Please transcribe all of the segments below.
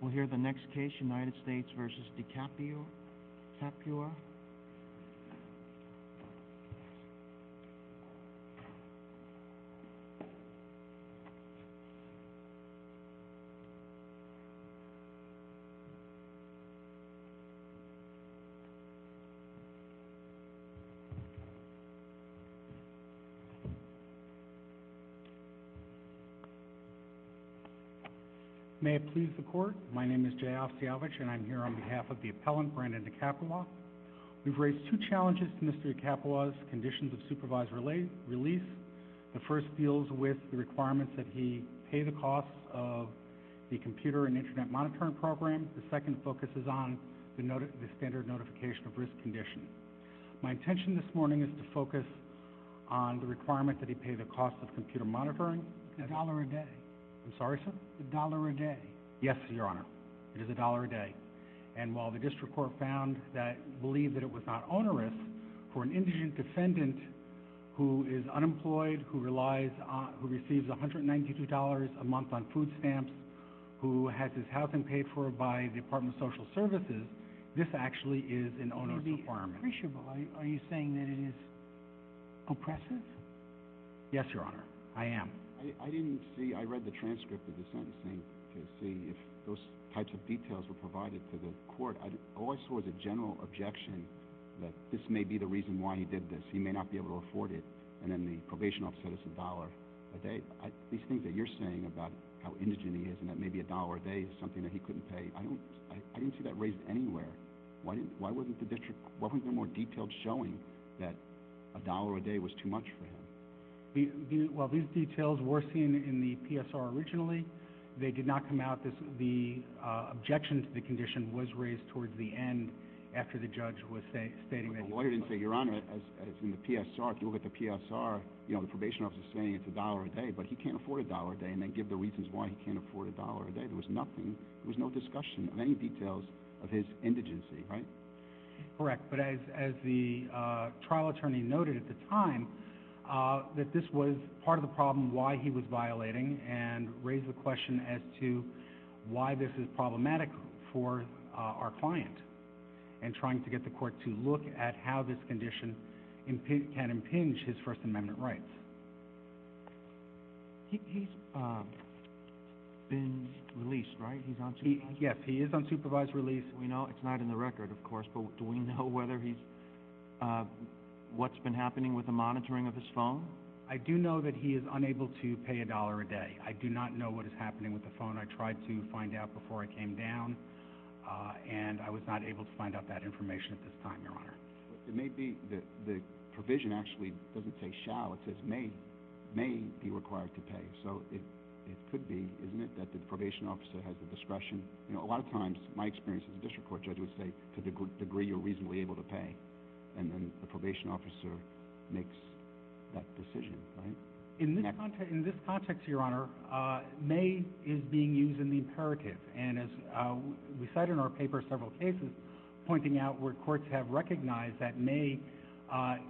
We'll hear the next case United States v. Did can't be. You were. Making record my name is child talent and I'm here on behalf of the appellant granted the capital. We've raised two challenges mystery capitalized conditions of supervisor late release. The first deals with the requirements that he paid the cost of. The computer and Internet monitoring program the second focuses on the note of the standard notification of risk condition. My intention this morning is to focus. On the requirement that he paid the cost of computer monitoring the dollar a day. Sorry dollar a day yes your honor is a dollar a day. And while the district court found that believe that it was not onerous. For an indigent defendant. Who is unemployed who relies on who receives a hundred ninety two dollars a month on food stamps. Who had to have been paid for by the department social services. This actually is an owner of the farm. Are you saying that it is. Oppressive. Yes your honor I am. I didn't see I read the transcript of the sentencing. See if those types of details were provided to the court I'd always was a general objection. That this may be the reason why he did this he may not be able to afford it and then the probation office is a dollar. A day I think that you're saying about how indigent he is and that maybe a dollar a day something that he couldn't pay I don't I didn't see that raised anywhere. Why why wouldn't the district what we've been more detailed showing that. A while the details were seen in the PSR originally. They did not come out this the objections the condition was raised towards the end. After the judge with a statement why didn't figure on it as it's in the PSR to look at the PSR you know the probation officer saying it's a dollar a day but he can't afford a dollar a day and then give the reasons why he can't afford a dollar a day there was nothing there's no discussion many details. Of his indigency right. Correct but as as the trial attorney noted at the time. That this was part of the problem why he was violating and raise the question as to. Why this is problematic for our client. And trying to get the court to look at how this condition. And he can impinge his first amendment right. He's. Been released right he's on TV yes he is unsupervised release we know it's not in the record of course but what do we know whether he's. What's been happening with the monitoring of his phone. I do know that he is unable to pay a dollar a day I do not know what is happening with the phone I tried to find out before I came down. And I was not able to find out that information this time your honor. It may be that the provision actually doesn't say shall it says may. May be required to pay so it. Could be isn't it that the probation officer has the discretion you know a lot of times my experience in the district court judge would say to the good degree you're reasonably able to pay. And then the probation officer. Makes. That decision. In this context in this context your honor. May is being used in the imperative and as we said in our paper several cases. Pointing out where courts have recognized that may.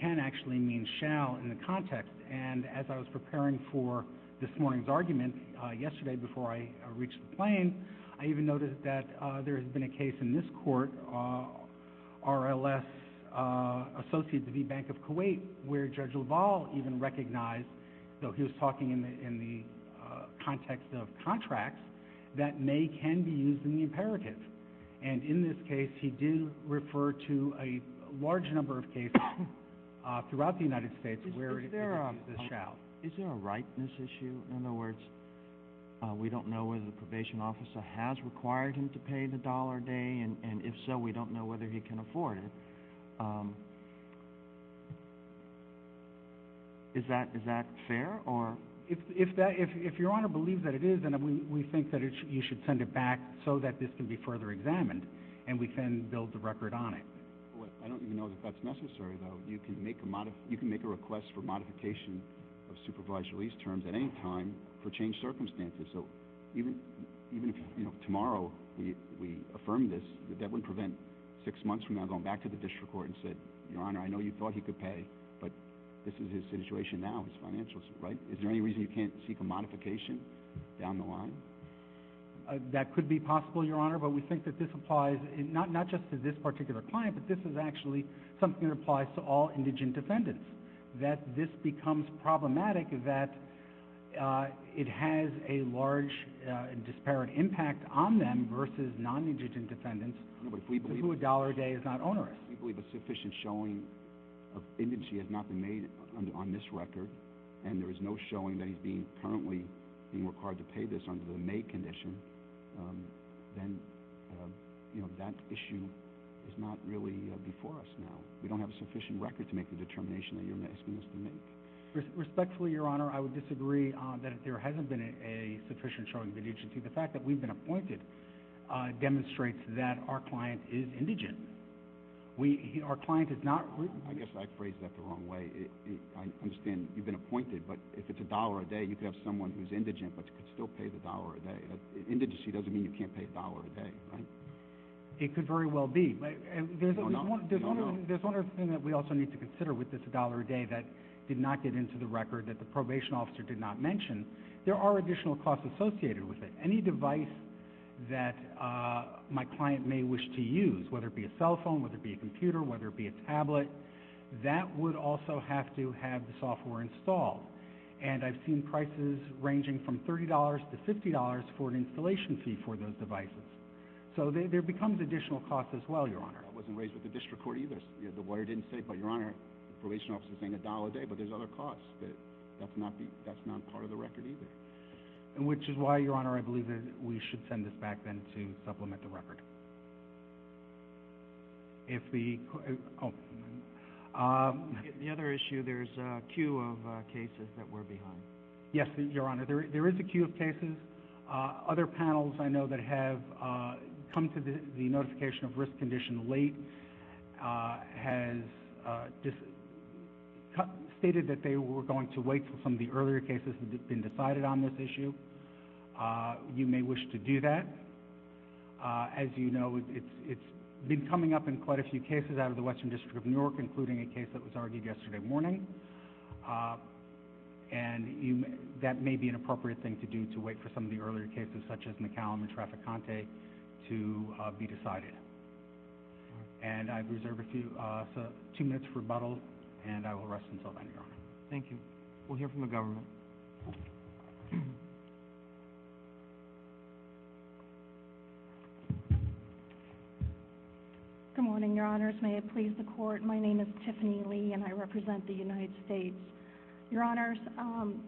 Can actually mean shall in the context and as I was preparing for this morning's argument yesterday before I reached the plane. I even noted that there's been a case in this court. RLS. Associated the bank of Kuwait where judge of all even recognize. So he's talking in the in the. Context of contract. That may can be used in the imperative. And in this case he didn't refer to a large number of cases. Throughout the United States where there are the shall is there a right this issue in other words. We don't know where the probation officer has required him to pay the dollar a day and if so we don't know whether he can afford. Is that is that fair or if if that if if you want to believe that it is and I mean we think that it's you should send it back so that this can be further examined and we can build the record on it. I don't know if that's necessary you can make a lot of you can make a request for modification. Supervised release terms at any time for change circumstances so. Even even if you know tomorrow. We affirm this that would prevent. Six months from now going back to the district court and said your honor I know you thought he could pay but this is his situation now financials right is there any reason you can't seek a modification. Down the line. That could be possible your honor but we think that this applies in not not just to this particular point but this is actually something applies to all indigent defendants that this becomes problematic that. It has a large disparate impact on them versus non indigent defendants but we believe a dollar a day is not onerous we believe a sufficient showing. Indigent not been made on this record and there is no showing that he's being currently in work hard to pay this on the May condition. Then. You know that issue. It's not really before us now we don't have sufficient record to make a determination that you're asking. Respectfully your honor I would disagree on that there hasn't been a sufficient showing in each of the fact that we've been appointed. Demonstrates that our client is indigent. We hear our client is not. I guess I phrased that the wrong way. I understand you've been appointed but if it's a dollar a day you have someone who's indigent but still pay the dollar a day. Indigency doesn't mean you can't pay a dollar a day. It could very well be and there's a lot of different there's one other thing that we also need to consider with this dollar a day that did not get into the record that the probation officer did not mention. There are additional costs associated with it. Any device. That. My client may wish to use whether it be a cell phone with a big computer whether it be a tablet. That would also have to have the software installed. And I've seen prices ranging from thirty dollars to fifty dollars for an installation fee for those devices. So they there becomes additional costs as well your honor wasn't raised with the district court either. The water didn't say but your honor probation officer thing a dollar a day but there's other costs that. That's not the that's not part of the record either. Which is why your honor I believe that we should send it back then to supplement the record. If the. The other issue there's a queue of cases that were behind. Yes your honor there is a queue of cases. Other panels I know that have. Come to the notification of risk condition late. Has. Cut stated that they were going to wait for some of the earlier cases that been decided on this issue. You may wish to do that. As you know it's it's been coming up in quite a few cases out of the western district of Newark including a case that was argued yesterday morning. And you may that may be an appropriate thing to do to wait for some of the earlier cases such as McCallum and traffic Conte. To be decided. And I've reserved a few. Two minutes rebuttal and I will rest until. Thank you we'll hear from the government. Good morning your honors may it please the court my name is Tiffany Lee and I represent the United States. Your honors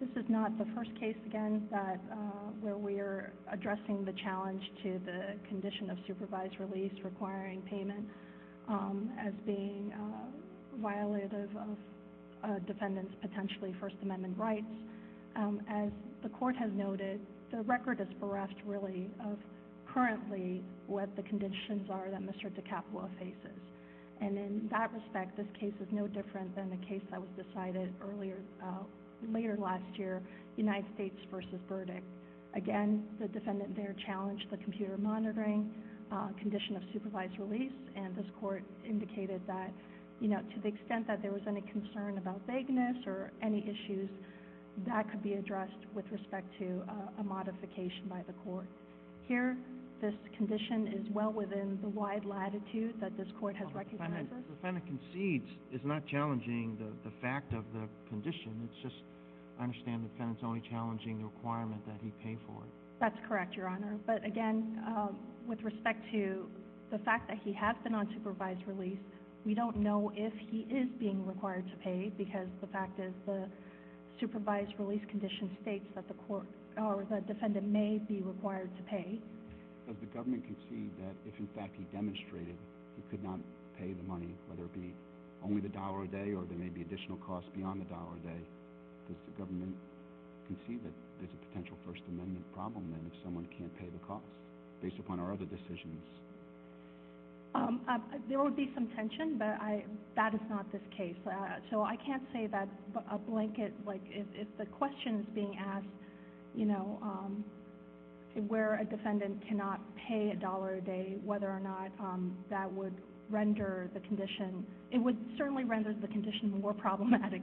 this is not the first case again that where we are addressing the challenge to the condition of supervised release requiring payment. As being. Violated of. Defendants potentially first amendment right. As the court has noted the record is for us to really. Currently what the conditions are that Mr to capital cases. And in that respect this case is no different than the case that was decided earlier. Later last year United States versus verdict. Again the defendant their challenge the computer monitoring. Condition of supervised release and this court indicated that. You know to the extent that there was any concern about vagueness or any issues. That could be addressed with respect to a modification by the court. Here this condition is well within the wide latitude that this court has recognized. Defendant concedes is not challenging the fact of the condition it's just. Understand it's only challenging the requirement that he paid for. That's correct your honor but again. With respect to the fact that he has been on provides relief. We don't know if he is being required to pay because the fact is the. Supervised release condition states that the court. The defendant may be required to pay. The government can see that in fact demonstrated. Could not pay the money there be. Only the dollar a day or there may be additional costs beyond the dollar a day. The government. You can see that there's a potential first amendment problem and someone can pay the cost. Based upon our other decisions. There would be some tension that I that is not the case that so I can't say that a blanket like if the question being asked. You know. Where a defendant cannot pay a dollar a day whether or not that would render the condition it would certainly render the condition more problematic.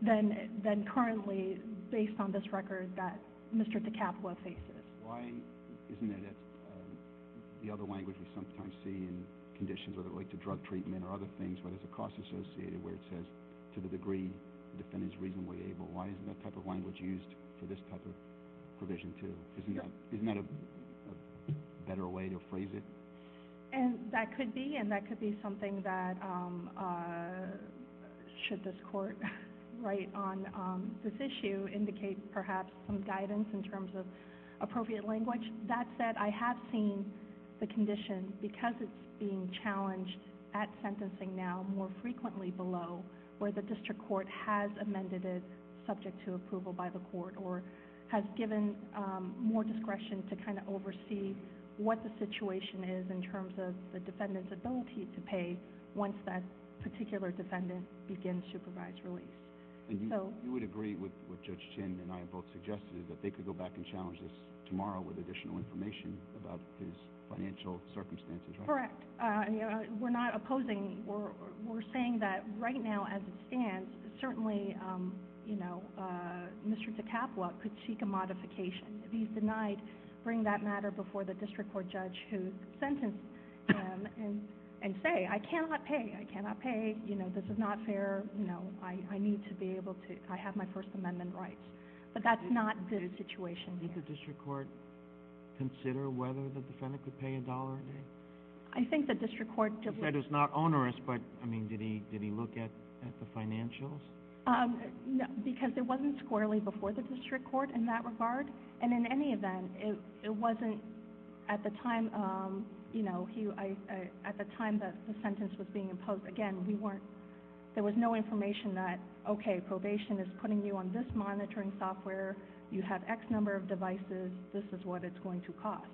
Then then currently based on this record that. Mr the capital. Why isn't it. The other language sometimes seen. Conditions of the way to drug treatment or other things with the cost associated with this. To the degree. Defendants reasonably able why is that type of language used for this type of. Provision to isn't that isn't that a. Better way to phrase it. And that could be and that could be something that. Should this court. Right on this issue indicate perhaps some guidance in terms of appropriate language that that I have seen the condition because it's being challenged at sentencing now more frequently below where the district court has amended it subject to approval by the court or have given more discretion to kind of oversee what the situation is in terms of the defendant's ability to pay once that particular defendant begins to provide relief. So you would agree with with Justin and I both suggested that they could go back and challenges tomorrow with additional information about his financial circumstances correct you know we're not opposing or we're saying that right now and and certainly you know. Mr the capital could seek a modification be denied bring that matter before the district court judge who. And say I cannot pay I cannot pay you know this is not fair you know I I need to be able to I have my first amendment right. But that's not the situation in the district court. Consider whether the defendant could pay a dollar. I think the district court that is not onerous but I mean did he did he look at the financial. Because it wasn't squarely before the district court in that regard and in any event if it wasn't at the time. You know he I at the time that the sentence was being imposed again we weren't. There was no information that okay probation is putting you on this monitoring software you have X number of devices this is what it's going to cost.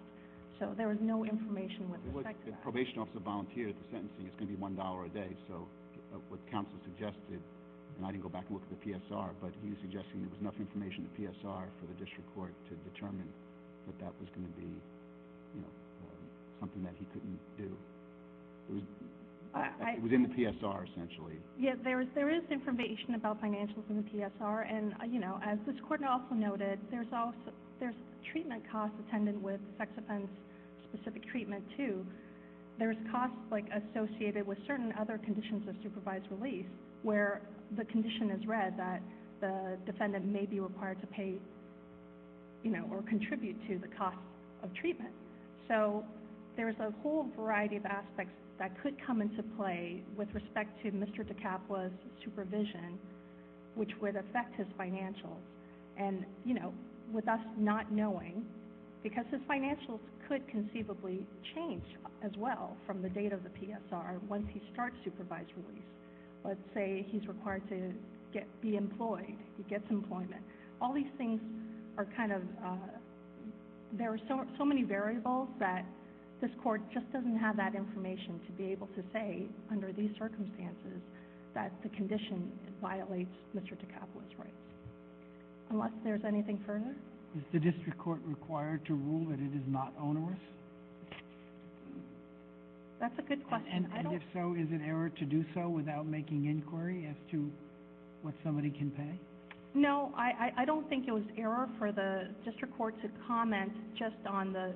So there is no information with what the probation officer volunteer sentencing is to be one dollar a day so. What counsel suggested. I go back with the PSR but he's suggesting there's enough information the PSR for the district court to determine. That was going to be. Something that he couldn't do. I was in the PSR essentially yet there is there is information about financials in the PSR and I you know as this court also noted there's also there's treatment cost attendant with sex offense specific treatment to. There's costs like associated with certain other conditions of supervised release where the condition is read that the defendant may be required to pay. You know or contribute to the cost of treatment so there's a whole variety of aspects that could come into play with respect to Mr to cap was supervision. Which would affect his financial and you know with us not knowing. Because the financial could conceivably change as well from the date of the PSR when he starts to provide. Let's say he's required to get the employee gets employment all these things are kind of. There are so so many variables that this court just doesn't have that information to be able to say under these circumstances that the condition violates Mr to cap was right. Unless there's anything further the district court required to rule that it is not on. That's a good but I don't know if it ever to do so without making inquiry to. What somebody can pay no I don't think it was error for the district court to comment just on the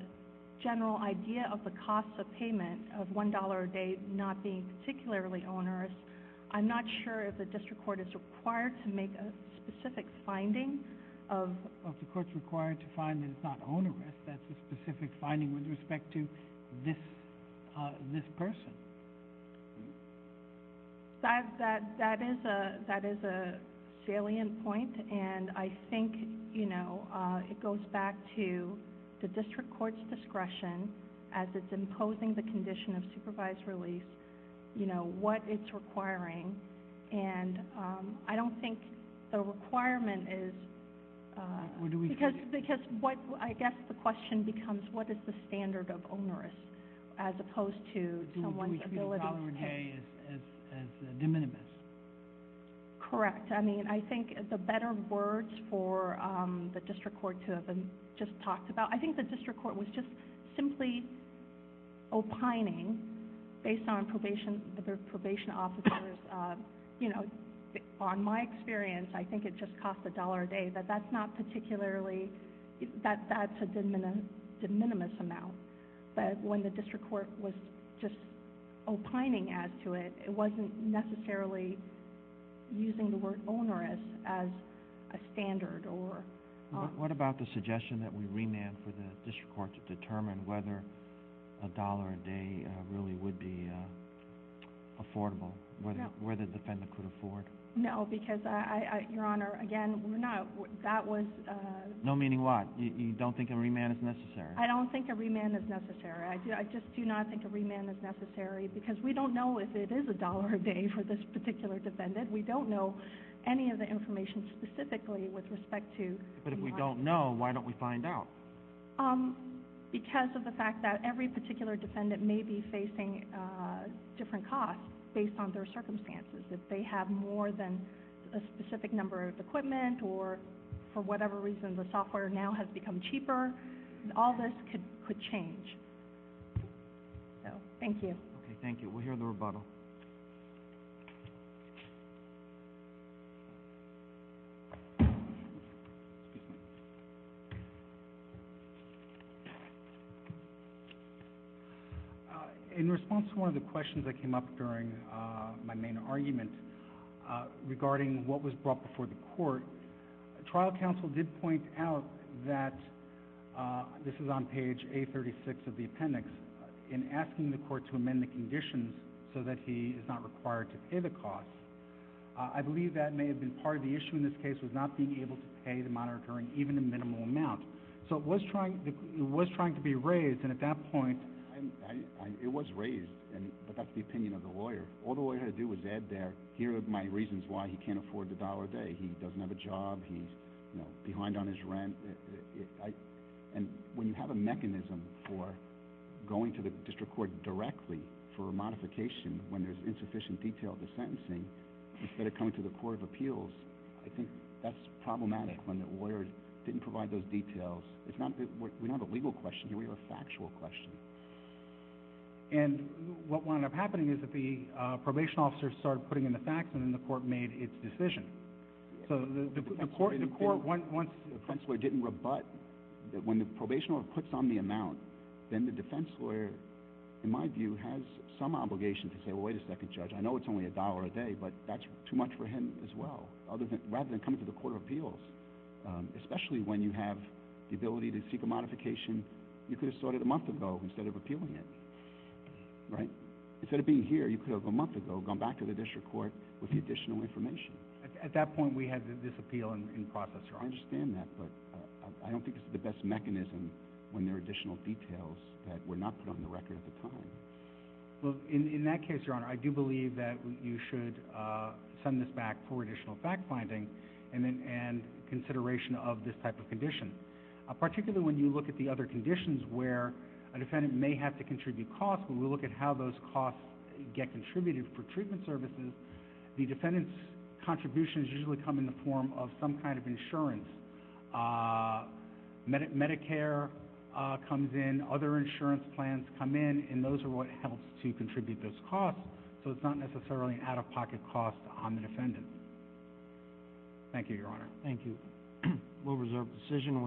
general idea of the cost of payment of one dollar a day not being particularly owners. I'm not sure if the district court is required to make a specific finding. Of the court required to find it's not only that specific finding with respect to. This. This person. That that that is a that is a salient point and I think you know it goes back to the district court's discretion as it's imposing the condition of supervised relief. You know what it's requiring and I don't think the requirement is. Do we have because what I guess the question becomes what standard of honor. As opposed to someone's ability. To minimize. Correct I mean I think the better words for the district court to have been just talked about I think the district court was just simply. O'connor. Based on probation the probation office. You know. On my experience I think it just cost a dollar a day that that's not particularly. That that's a good minute. Minimum amount. But when the district court was just. O'connor adding to it it wasn't necessarily. Using the word owner as as. A standard or not what about the suggestion that we remain for the district court to determine whether. A dollar a day really would be. Affordable whether where the defendant could afford now because I your honor again we're not that was. No meaning what you don't think every man is necessary I don't think every man is necessary I do I just do not think every man is necessary because we don't know if it is a dollar a day for this particular defendant we don't know. Any of the information specifically with respect to but if we don't know why don't we find out. Because of the fact that every particular defendant may be facing. Different costs based on their circumstances if they have more than. A specific number of equipment or for whatever reason the software now has become cheaper. All this could could change. Thank you thank you will hear the rebuttal. In response to one of the questions that came up during. My main argument. Regarding what was brought before the court. Trial counsel did point out that. This is on page eight thirty six of the appendix. In asking the court to amend the conditions so that he is not required to pay the cost. I believe that may have been part of the issue in this case was not being able to pay the monitor and even a minimum amount so what's trying to do what's trying to be raised and at that point. It was raised and that's the opinion of the lawyer all the way to do is add there here are my reasons why he can't afford the dollar day he doesn't have a job he's. Behind on his rent. And when you have a mechanism for. Going to the district court directly for a modification when there's insufficient detail the sentencing. Instead of coming to the court of appeals I think that's problematic when the lawyers didn't provide those details it's not that what we have a legal question we have a factual question. And what wound up happening is that the probation officer start putting in the facts in the court made its decision. So the court in the court one one defense lawyer didn't rebut. That when the probation or puts on the amount. Then the defense lawyer. In my view has some obligation to say wait a second judge I know it's only a dollar a day but that's too much for him as well other than rather than come to the court of appeals. Especially when you have. The ability to seek a modification. You could have started a month ago instead of appealing. Right. Instead of being here you could have a month ago gone back to the district court with the additional information. At that point we have this appeal in process or understand that. I don't think the best mechanism. When there additional details that were not on the record at the time. In that case your honor I do believe that you should. Send this back for additional fact finding. And then and consideration of this type of condition. Particularly when you look at the other conditions where. A defendant may have to contribute cost when we look at how those costs. Get contributed for treatment services. The defendant's. Contributions usually come in the form of some kind of insurance. Medicare. Comes in other insurance plans come in and those are what helps to contribute this cost. So it's not necessarily out of pocket cost on the defendant. Thank you your honor thank you. We'll reserve decision we'll hear